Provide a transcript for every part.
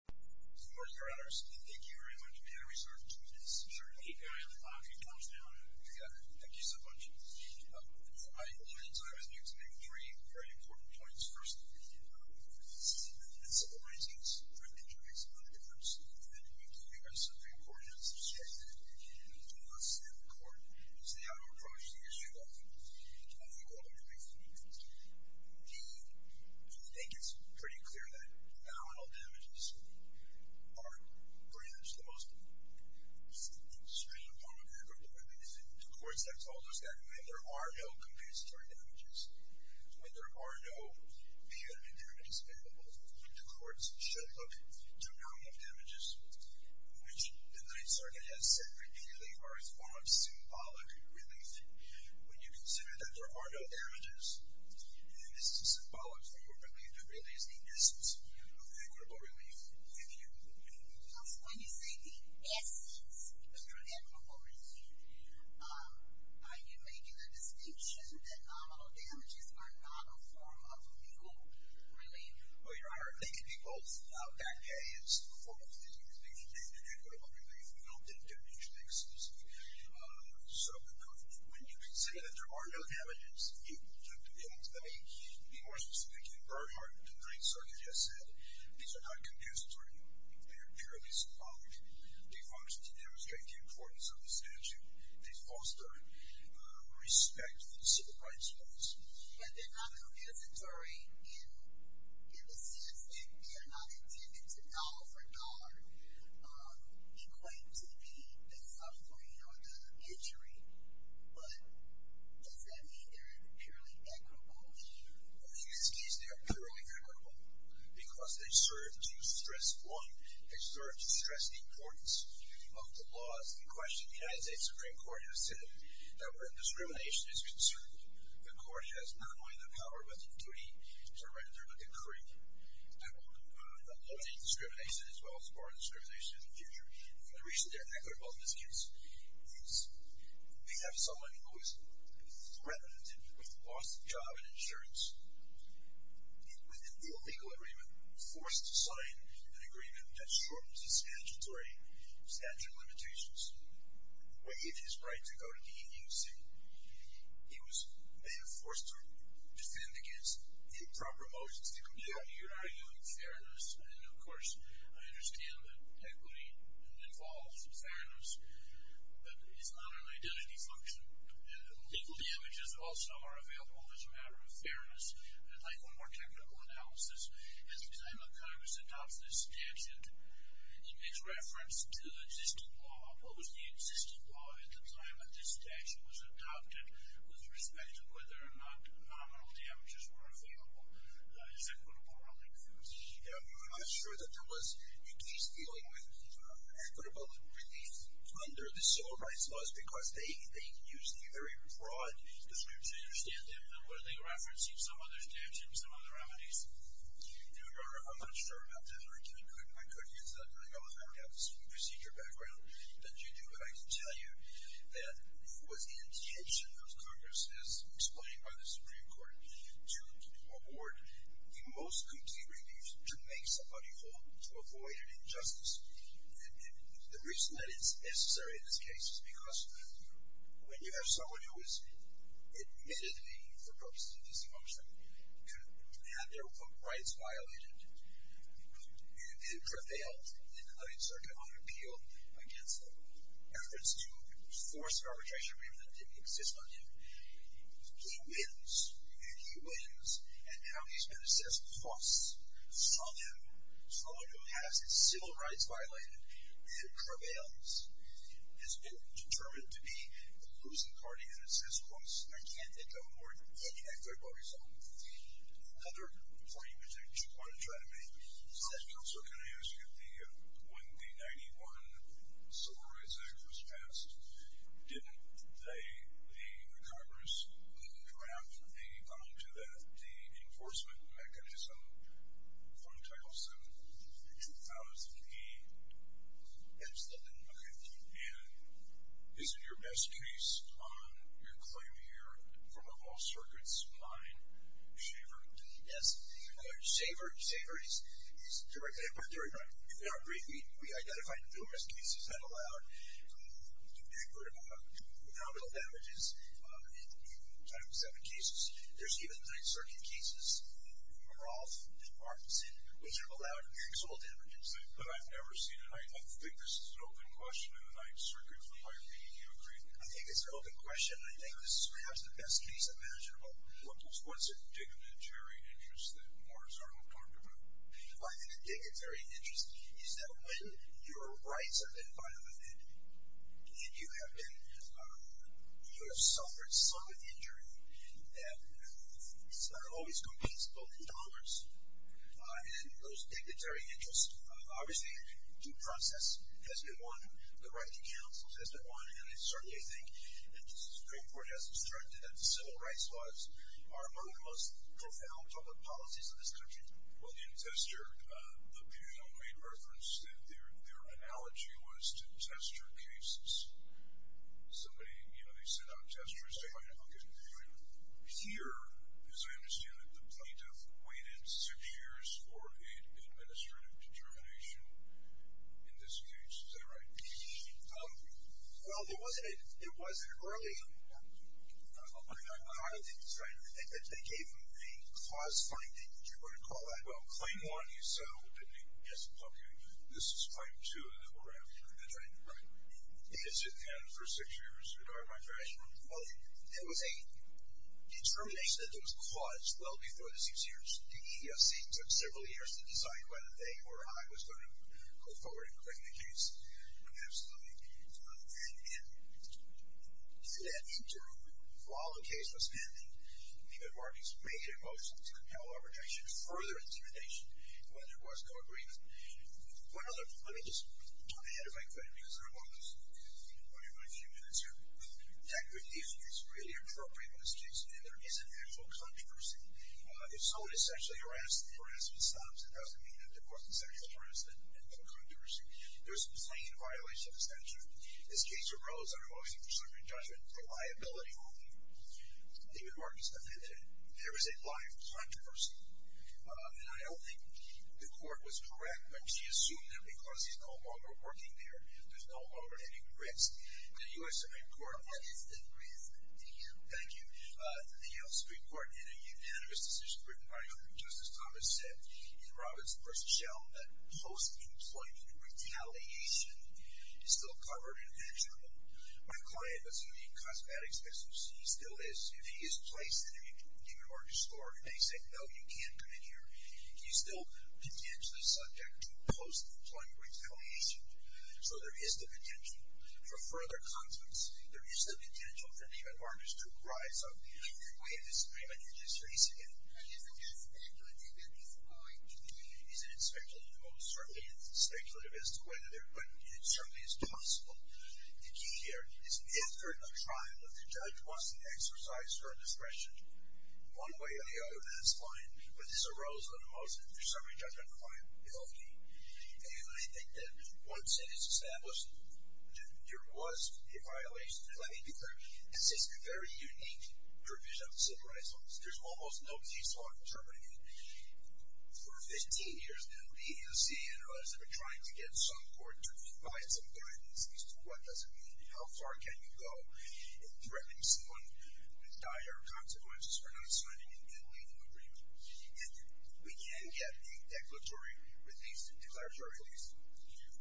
Good morning, your honors. Thank you very much. May I restart the two minutes? Certainly. Thank you so much. I was going to make three very important points. First of all, it's the movements of orientings. It makes a lot of difference. We've given ourselves three coordinates to check that. It's the muscle and the cord. It's the outer approach to the issue that we hold on to. The second thing is the form of relief. We think it's pretty clear that nominal damages are pretty much the most extreme form of medical relief. The courts have told us that when there are no compensatory damages, when there are no VA damages available, the courts should look to nominal damages, which the Ninth Circuit has said repeatedly are a form of symbolic relief. When you consider that there are no damages, this is a symbolic form of relief that really is the essence of equitable relief with you. When you say the essence of your equitable relief, are you making a distinction that nominal damages are not a form of legal relief? Your honor, linking people without back pay is a form of legal relief. We don't think that you should make a specific set of conclusions. When you say that there are no damages, you have to be more specific than Bernhardt. The Ninth Circuit has said these are not compensatory. They are purely symbolic. They function to demonstrate the importance of the statute. They foster respect for the civil rights laws. But they're not compensatory in the sense that they are not intended to dollar for dollar. It claims to be a supplement to injury, but does that mean they're purely equitable? In this case, they are purely equitable because they serve to stress, one, they serve to stress the importance of the laws in question. The United States Supreme Court has said that when discrimination is concerned, the court has not only the power but the duty to render a decree. I will not limit discrimination as well as bar discrimination in the future. For the reason they're equitable in this case is they have someone who is threatened with loss of job and insurance. With an illegal agreement, forced to sign an agreement that shortens the statutory statute limitations, waived his right to go to the EUC, he may have been forced to defend against improper motions. You're arguing fairness, and of course I understand that equity involves fairness, but it's not an identity function. Legal damages also are available as a matter of fairness. I'd like one more technical analysis. As the time of Congress adopts this statute, it makes reference to existing law. What was the existing law at the time that this statute was adopted with respect to whether or not nominal damages were available as equitable relief? I'm sure that there was in case dealing with equitable relief under the civil rights laws because they used the very broad terms. I understand that, but were they referencing some other standards and some other remedies? I'm not sure about that. I couldn't answer that. I don't have the procedure background that you do, but I can tell you that it was in the intention of Congress, as explained by the Supreme Court, to award the most complete relief to make somebody whole, to avoid an injustice. The reason that it's necessary in this case is because when you have someone who is admittedly, for purposes of this motion, to have their rights violated, and prevailed in the Ninth Circuit on appeal against them, in reference to force and arbitration agreement that didn't exist on him, he wins, and he wins. And how he's been assessed costs on him, someone who has his civil rights violated and prevails, has been determined to be a losing party and assessed costs, I can't think of more than one equitable result. Another point you wanted to try to make. Counselor, can I ask you, when the 91 Civil Rights Act was passed, didn't the Congress draft a bond to that, the enforcement mechanism from Title VII in 2008? Absolutely. Okay. And is it your best case on your claim here, from a all-circuits line, Shaver? Yes. Shaver is directly imparted. If you'll agree, we identified numerous cases that allowed a number of nominal damages in Title VII cases. There's even Ninth Circuit cases, Rolf and Parkinson, which have allowed maximal damages. But I've never seen it. I think this is an open question in the Ninth Circuit. Would you agree? I think it's an open question. I think this is perhaps the best case imaginable. What's a dignitary interest that Morris Arnold talked about? I think a dignitary interest is that when your rights have been violated and you have suffered some injury that always competes both in dollars, and those dignitary interests, obviously, due process has been one. The right to counsel has been one. And I certainly think it's very important, as instructed, that the civil rights laws are one of the most profound public policies in this country. Well, in Tester, the panel made reference that their analogy was to Tester cases. Somebody, you know, they sent out testers to find out, okay, here, as I understand it, the plaintiff waited six years for an administrative determination, in this case. Is that right? Well, it wasn't early. They gave them a cause finding. Would you want to call that? Well, claim one is opening. Yes, okay. This is claim two, and then we're after. That's right. Is it then for six years? Well, it was a determination that was caused well before the six years. The EEOC took several years to decide whether they or I was going to go forward and claim the case. Absolutely. And in that interim, while the case was pending, David Markey's major motion to compel arbitration, further intimidation, when there was no agreement. One other, let me just, I'm ahead of my credit because I'm almost, I'll give you a few minutes here. That decision is really appropriate in this case, and there is an actual controversy. If someone is sexually harassed, the harassment stops, it doesn't mean that the person is sexually harassed, there's no controversy. There is a plain violation of the statute. This case arose out of a lawsuit for suffering judgment for liability only. David Markey's definition, there is a live controversy. And I don't think the court was correct when she assumed that because he's no longer working there, there's no longer any risk. The U.S. Supreme Court. What is the risk to you? Thank you. The U.S. Supreme Court in a unanimous decision written by Justice Thomas said, in Roberts v. Shell, that post-employment retaliation is still covered in that journal. My client, that's going to be in cosmetics, as you see, still is. If he is placed in a given order to store, and they say, no, you can't put it here, he's still potentially subject to post-employment retaliation. So there is the potential for further conflicts. There is the potential for David Markey to rise up. I have this claim that you just raised again. And isn't that speculative at this point? Isn't it speculative? Oh, certainly it's speculative as to whether they're going to get it. It certainly is possible. The key here is if they're in a trial, if the judge wants to exercise her discretion one way or the other, that's fine. But this arose out of a motion. There are so many judges on the file. They all came. And I think that once it is established, there was a violation. Let me be clear. This is a very unique provision of civil rights laws. There's almost no case law determining it. For 15 years now, we in the CIA and others have been trying to get some court to provide some guidance as to what does it mean and how far can you go in threatening someone with dire consequences for not signing a good legal agreement. If we can get a declaratory release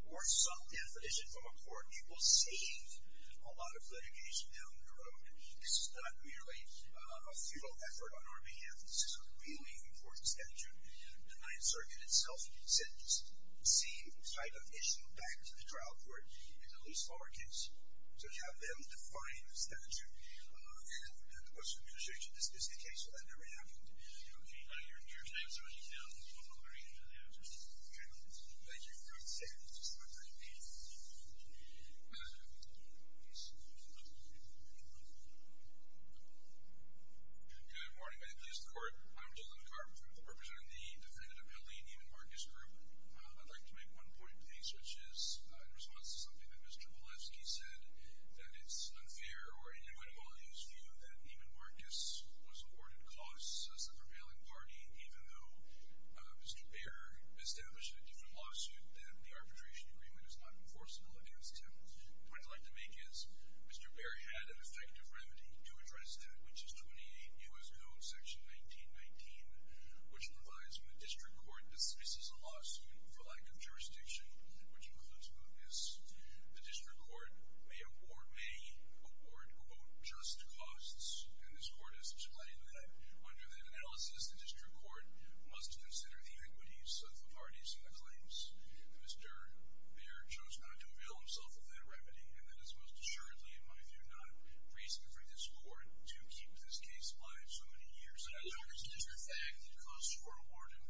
or some definition from a court, it will save a lot of litigation down the road. This is not merely a futile effort on our behalf. This is a really important statute. The Ninth Circuit itself sent this same type of issue back to the trial court in the least former case. So you have them define the statute. The question of negotiation. This is the case where that never happened. Okay. Your time is running down. We'll move on to our next panel. Thank you. Good morning. My name is Douglas McCartman. I'm representing the Defendant Appellee, Neiman Marcus Group. I'd like to make one point, please, which is in response to something that Mr. Wolefsky said, that it's unfair or inadequate of all things to view that Neiman Marcus was awarded costs as a prevailing party, even though Mr. Baer established a different lawsuit, that the arbitration agreement is not enforceable against him. What I'd like to make is Mr. Baer had an effective remedy to address that, which is 28 U.S. Code Section 1919, which provides when the district court dismisses a lawsuit for lack of jurisdiction, which includes mootness, the district court may award, may award, quote, just costs. And this court has explained that under the analysis, the district court must consider the iniquities of the parties in the claims. Mr. Baer chose not to avail himself of that remedy, and that is most assuredly, in my view, not reasonable for this court to keep this case alive so many years. And as a matter of fact, the costs were awarded.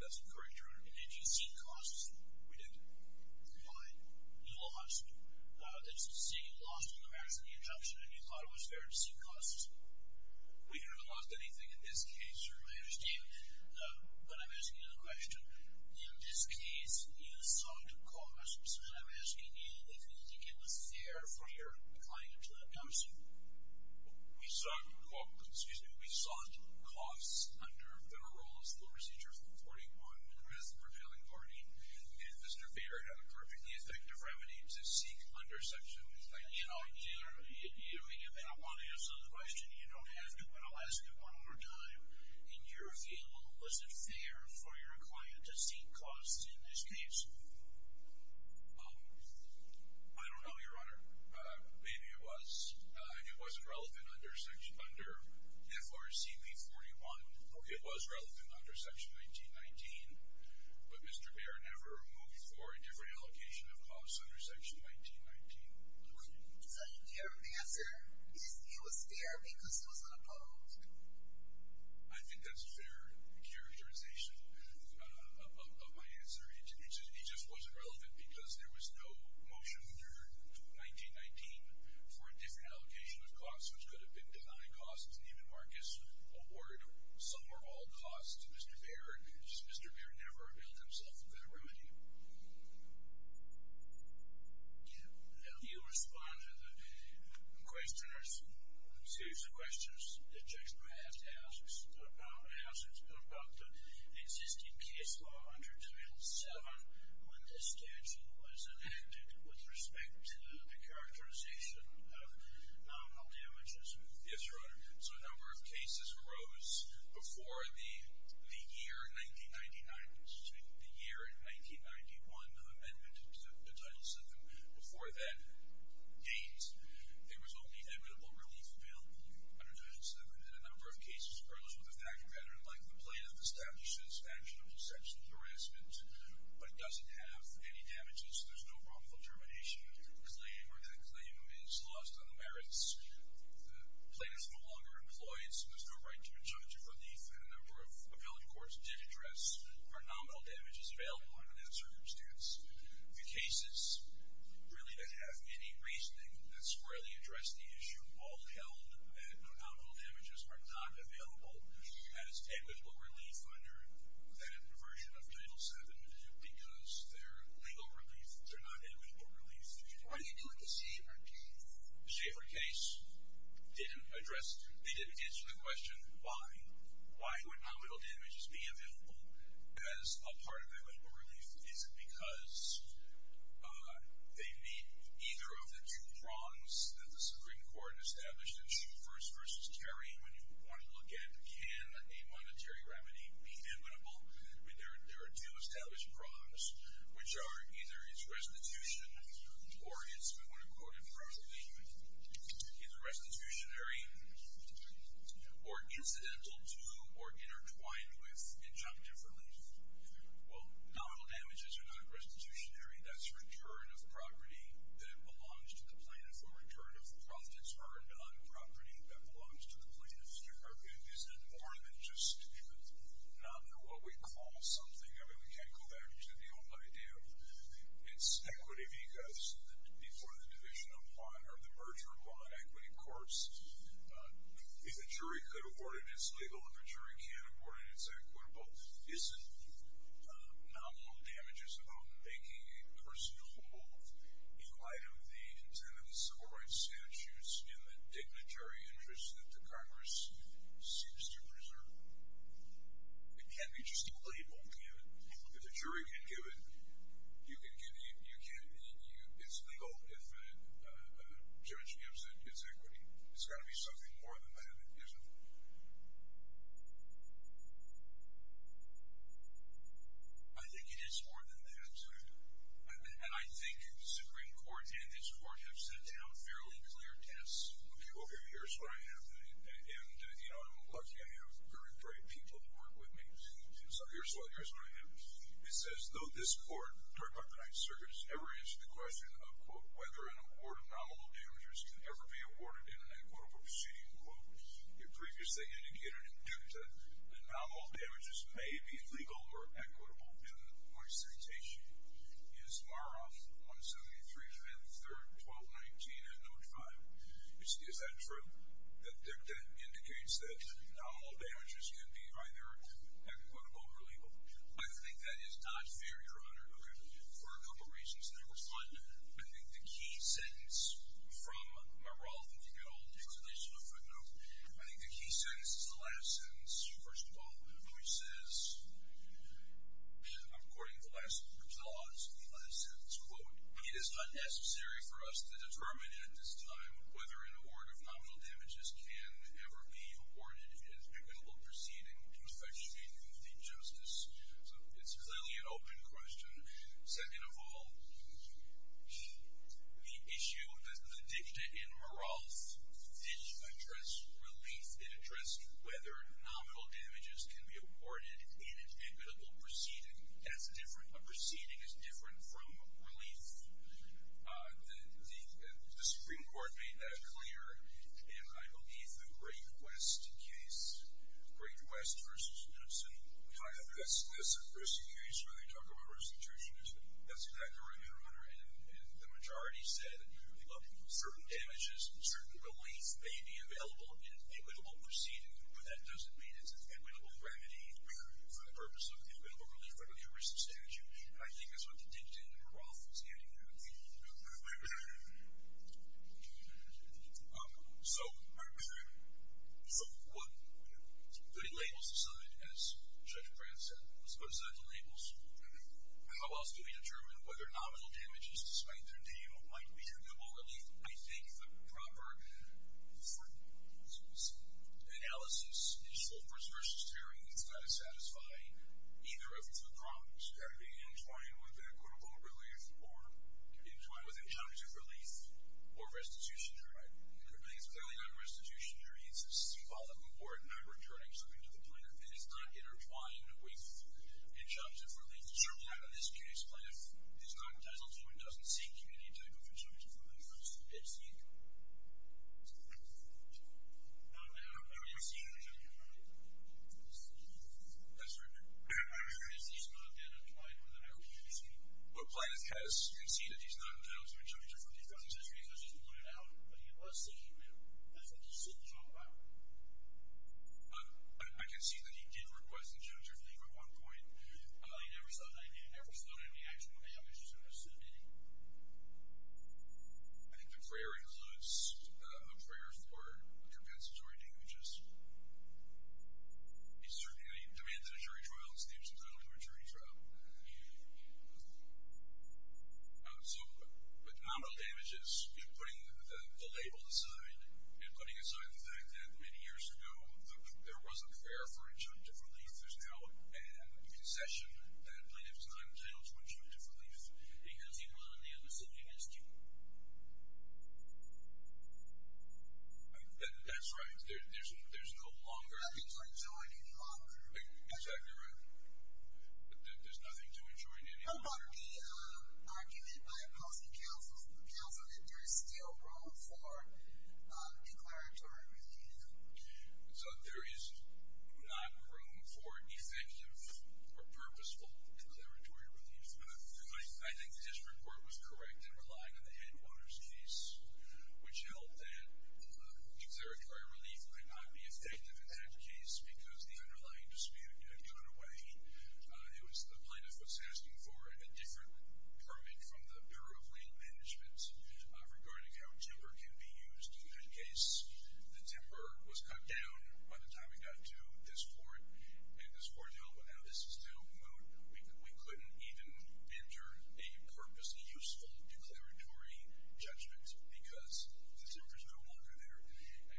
That's correct, Your Honor. And did you see costs? We did. Fine. You lost. It's to say you lost in the matters of the injunction, and you thought it was fair to see costs. We never lost anything in this case, Your Honor. I understand. But I'm asking you the question. In this case, you sought costs, and I'm asking you if you think it was fair for your client to not come soon. We sought costs under federal rules, and Mr. Baer had a perfectly effective remedy to seek under sections. And I want to ask another question. You don't have to, but I'll ask it one more time. In your view, was it fair for your client to seek costs in this case? I don't know, Your Honor. Maybe it was, and it wasn't relevant under FRCP 41. It was relevant under Section 1919, but Mr. Baer never moved for a different allocation of costs under Section 1919. Did you hear the answer? It was fair because it was composed. I think that's a fair characterization of my answer. It just wasn't relevant because there was no motion under 1919 for a different allocation of costs, which could have been denied costs, and even Marcus awarded some or all costs to Mr. Baer. Mr. Baer never availed himself of that remedy. Do you respond to the question or series of questions that Jackson might have to ask about the existing case law under Title VII when this statute was enacted with respect to the characterization of non-health damages? Yes, Your Honor. So a number of cases arose before the year 1999, excuse me, the year in 1991, the amendment to Title VII. Before that date, there was only equitable relief available under Title VII, and a number of cases arose with the fact that a veteran like the plaintiff establishes action of exceptional harassment but doesn't have any damages. There's no wrongful termination claim, or that claim is lost on the merits. The plaintiff no longer employs, and there's no right to a judge of relief, and a number of appellate courts did address are nominal damages available under that circumstance. The cases really that have any reasoning that squarely address the issue, all held that no nominal damages are not available, had as equitable relief under that version of Title VII because they're legal relief. They're not equitable relief. What do you do with the Schaefer case? The Schaefer case didn't address, they didn't answer the question why. Why would nominal damages be available as a part of equitable relief? Is it because they meet either of the two prongs that the Supreme Court established in Schubert's versus Kerry? When you want to look at can a monetary remedy be equitable, there are two established prongs, which are either it's restitution or it's, we want to quote it properly, either restitutionary or incidental to or intertwined with injunctive relief. Well, nominal damages are not restitutionary. That's return of property that belongs to the plaintiff or return of profits earned on property that belongs to the plaintiff. Isn't it more than just nominal, what we call something? I mean, we can't go back to the old idea of it's equity because before the merger of law and equity courts, if a jury could afford it, it's legal. If a jury can't afford it, it's equitable. Isn't nominal damages about making a person hold in light of the intent of the civil rights statutes in the dignitary interest that the Congress seems to preserve? It can't be just a label, can it? If a jury can give it, you can give it. It's legal if a judge gives it. It's equity. It's got to be something more than that, isn't it? I think it is more than that. And I think the Supreme Court and this court have set down fairly clear tests. Okay, well, here's what I have. And, you know, I'm lucky. I have very brave people who work with me. So here's what I have. It says, though this court, the Department of the Ninth Circuit has never answered the question of, quote, whether an award of nominal damages can ever be awarded in an equitable proceeding, quote, it previously indicated that nominal damages may be legal or equitable in my citation. Is Maroff 173, 5th, 3rd, 12, 19, and note 5. Is that true? That indicates that nominal damages can be either equitable or legal. I think that is not fair, Your Honor, for a couple of reasons. Number one, I think the key sentence from Maroff, if you could hold this additional footnote, I think the key sentence is the last sentence. First of all, Maroff says, according to the last sentence, quote, it is not necessary for us to determine at this time whether an award of nominal damages can ever be awarded in an equitable proceeding to effectuate the justice. So it's clearly an open question. Second of all, the issue of the dicta in Maroff did address relief. It addressed whether nominal damages can be awarded in an equitable proceeding. That's different. A proceeding is different from relief. The Supreme Court made that clear, and I believe the Great West case, Great West v. Hudson, I think that's the first case where they talk about restitution. That's exactly right, Your Honor. And the majority said certain damages, certain relief may be available in an equitable proceeding, but that doesn't mean it's an equitable remedy for the purpose of equitable relief under the arrest of statute, and I think that's what the dicta in Maroff was getting at. So what do the labels decide, as Judge Pratt said? What do the labels decide? How else do we determine whether nominal damages, despite their name, might be equitable relief? I think the proper analysis, initial first-versus-terroring, is going to satisfy either of the problems. Are they intertwined with equitable relief or intertwined with injunctive relief or restitution? Right. It's clearly not restitution. It's a symbolic award, not returning something to the plaintiff. It is not intertwined with injunctive relief. Certainly not in this case. What if the plaintiff is not entitled to and doesn't seek community type of injunctive relief from the defense history? I don't know. I haven't seen the injunctive relief. That's right. Is he not then implied within our community scheme? What plaintiff has, you can see that he's not entitled to injunctive relief from the defense history because he's pointed out, but he was seeking it. That's what the suit is all about. I can see that he did request injunctive relief at one point. You never saw any actual damage to the suit, did you? I think the prayer includes a prayer for compensatory damages. He demanded a jury trial, and he was entitled to a jury trial. So the nominal damage is putting the label aside and putting aside the fact that many years ago there was a prayer for injunctive relief. If there's now a concession, that plaintiff is not entitled to injunctive relief because he was on the other side of the dispute. That's right. There's no longer. Nothing to enjoin any longer. Exactly right. There's nothing to enjoin any longer. What about the argument by opposing counsel that there is still room for declaratory review? So there is not room for effective or purposeful declaratory relief. I think this report was correct in relying on the headquarters case, which held that declaratory relief could not be effective in that case because the underlying dispute had gone away. It was the plaintiff was asking for a different permit from the Bureau of Land Management regarding how timber can be used. In that case, the timber was cut down by the time it got to this court. And this court held without a system when we couldn't even enter a purposeful, useful declaratory judgment because the timber's no longer there.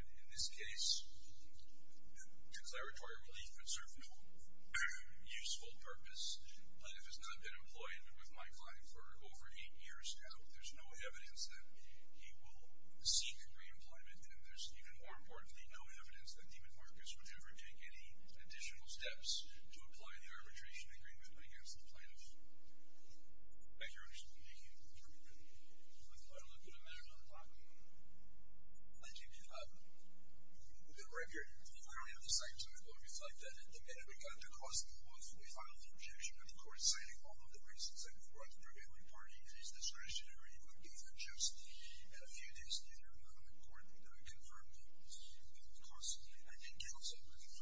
And in this case, declaratory relief would serve no useful purpose. But if it's not been employed with my client for over eight years now, there's no evidence that he will seek re-employment. And there's even more importantly, no evidence that David Marcus would ever take any additional steps to apply the arbitration agreement against the plaintiff. Thank you. Let's go ahead and look at a matter on the clock. I do need a minute. Right here. If I don't have the second time, it's like that. The minute we got across the law, we filed an objection to the court citing all of the reasons I've brought up for every party. It is discretionary, it would be unjust, and a few days later, the court would confirm the cause. I think it also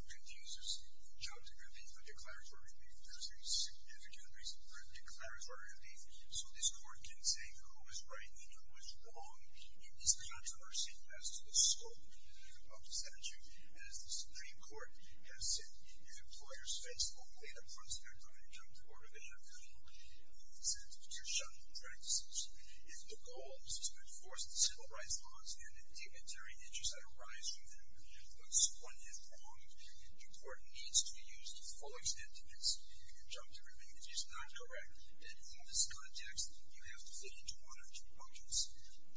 produces a job declaratory relief. There's a significant reason for declaratory relief so this court can say who is right and who is wrong in this controversy as to the scope of the statute. And as the Supreme Court has said, if employers face only the prospect of a job declaratory relief, it means that you're shunning practices. If the goal is to enforce the civil rights laws and the dignitary interests that arise from them puts one in the wrong, your court needs to use the full extent of its job declaratory relief. If it's not correct, then in this context, you have to fit into one of two buckets.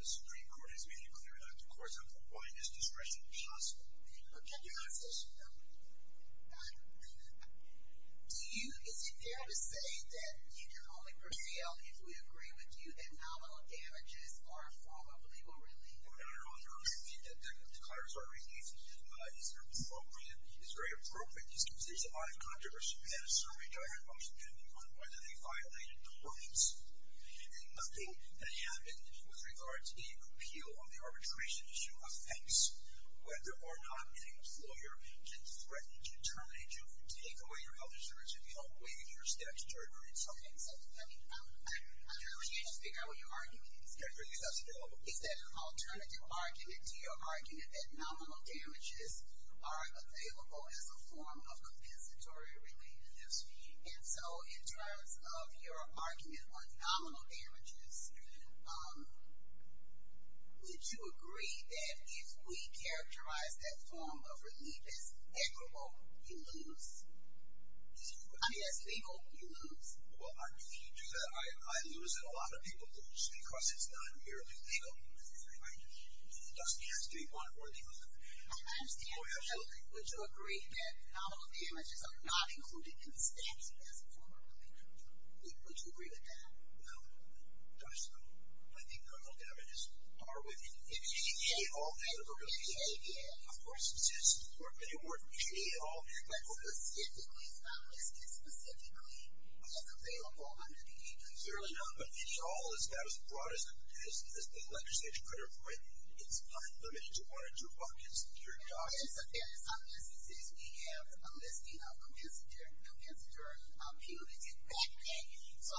The Supreme Court has made it clear that the courts have the widest discretion possible. Okay. Your Honor. Do you, is it fair to say that you can only prevail if we agree with you that nominal damages are formally relieved? Your Honor, I agree that the declaratory relief is appropriate, is very appropriate. This is a live controversy. We had a survey going on on whether they violated the ordinance. And nothing that happened with regard to a repeal of the arbitration issue affects whether or not any lawyer can threaten to terminate you and take away your health insurance if you don't waive your statutory insurance. Okay. So, I mean, I'm trying to figure out what your argument is. Your argument is that's available. Is that an alternative argument to your argument that nominal damages are available as a form of compensatory relief? Yes. And so, in terms of your argument on nominal damages, would you agree that if we characterize that form of relief as equitable, you lose? I mean, as legal, you lose. Well, if you do that, I lose and a lot of people lose because it's not merely legal. It doesn't have to be one or the other. I understand. Would you agree that nominal damages are not included in the statute as a form of relief? Would you agree with that? No. Gosh, no. I think nominal damages are within the ADA. In the ADA, yeah. Of course it is. They work in the ADA law. But specifically, it's not listed specifically as available under the ADA. Clearly not, but the ADA law is not as broad as the legislature put it, right? It's unlimited. You want to do buckets, you're done. In some instances, we have a listing of compensatory punitive back pay. So,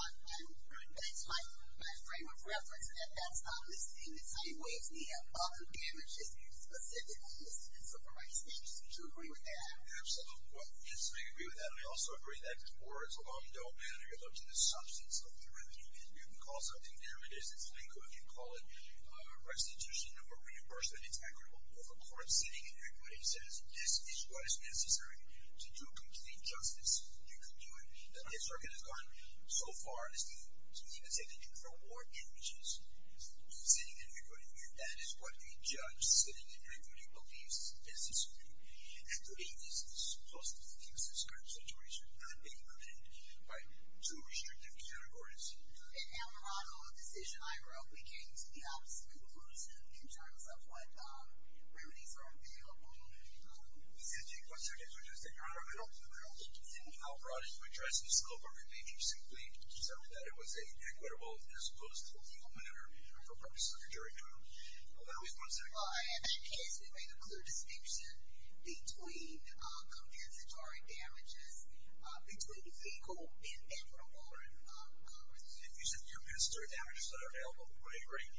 that's my frame of reference that that's not listed. It's how you weigh the amount of damages specifically listed. So, from my experience, would you agree with that? Absolutely. Yes, I agree with that. I also agree that ors alone don't matter. Look to the substance of the revenue. You can call it something. There it is. It's legal. You can call it restitution or reimbursement. It's equitable. If a court's sitting and everybody says this is what is necessary to do complete justice, you can do it. This circuit has gone so far as to even say that you can throw more images sitting and recruiting. That is what a judge sitting and recruiting believes is necessary. And the ADA's supposed to fix this current situation not be prevented by two restrictive categories. In our model of decision I wrote, we came to the opposite conclusion in terms of what remedies are available. We said, take what circuits are just and throw them in. Throw them in. And we outbrought it to address the scope of a remand. We simply decided that it was an equitable as opposed to a legal manner for purposes of jury time. I always want to say in that case we made a clear distinction between compensatory damages between legal and equitable. If you said the compensatory damages that are available we would agree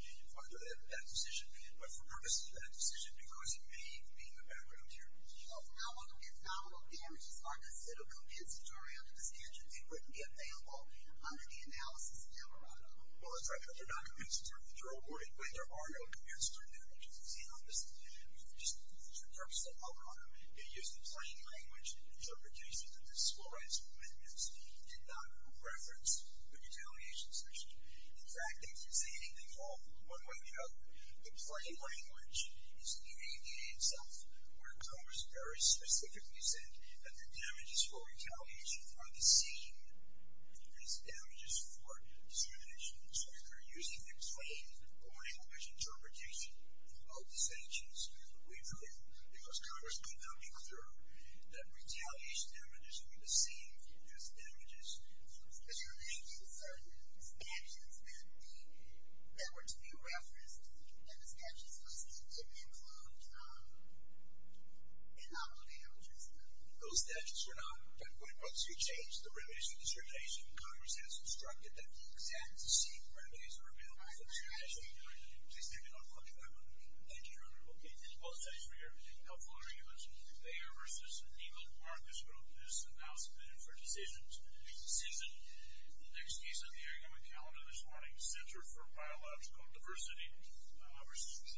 that decision. But for purposes of that decision because it may be in the background here. If nominal damages are considered compensatory under this statute they wouldn't be available under the analysis that you have brought up. Well that's right. They're not compensatory but there are no compensatory damages. It's the opposite. Just for the purpose that I brought up you use the plain language interpretation of the school rights amendments did not reference the retaliation section. In fact, if you say anything wrong one way or the other the plain language is the ADA itself. Where Congress very specifically said that the damages for retaliation are the same as damages for discrimination. So if you're using the plain plain language interpretation of the sanctions we believe because Congress put them in clear that retaliation damages are the same as damages for discrimination. But you're making certain statutes that the that were to be referenced in the compensatory damages list that didn't include nominal damages those statutes are not. But once you change the remedies for discrimination Congress has instructed that the exact same remedies are available for discrimination. Please take it off the agenda. Thank you. Okay. Thank you both. Thanks for your helpful arguments. Mayor vs. Eagle Marcus wrote this announcement for decisions next season. Next case on the argument calendar this morning Center for Biological Diversity versus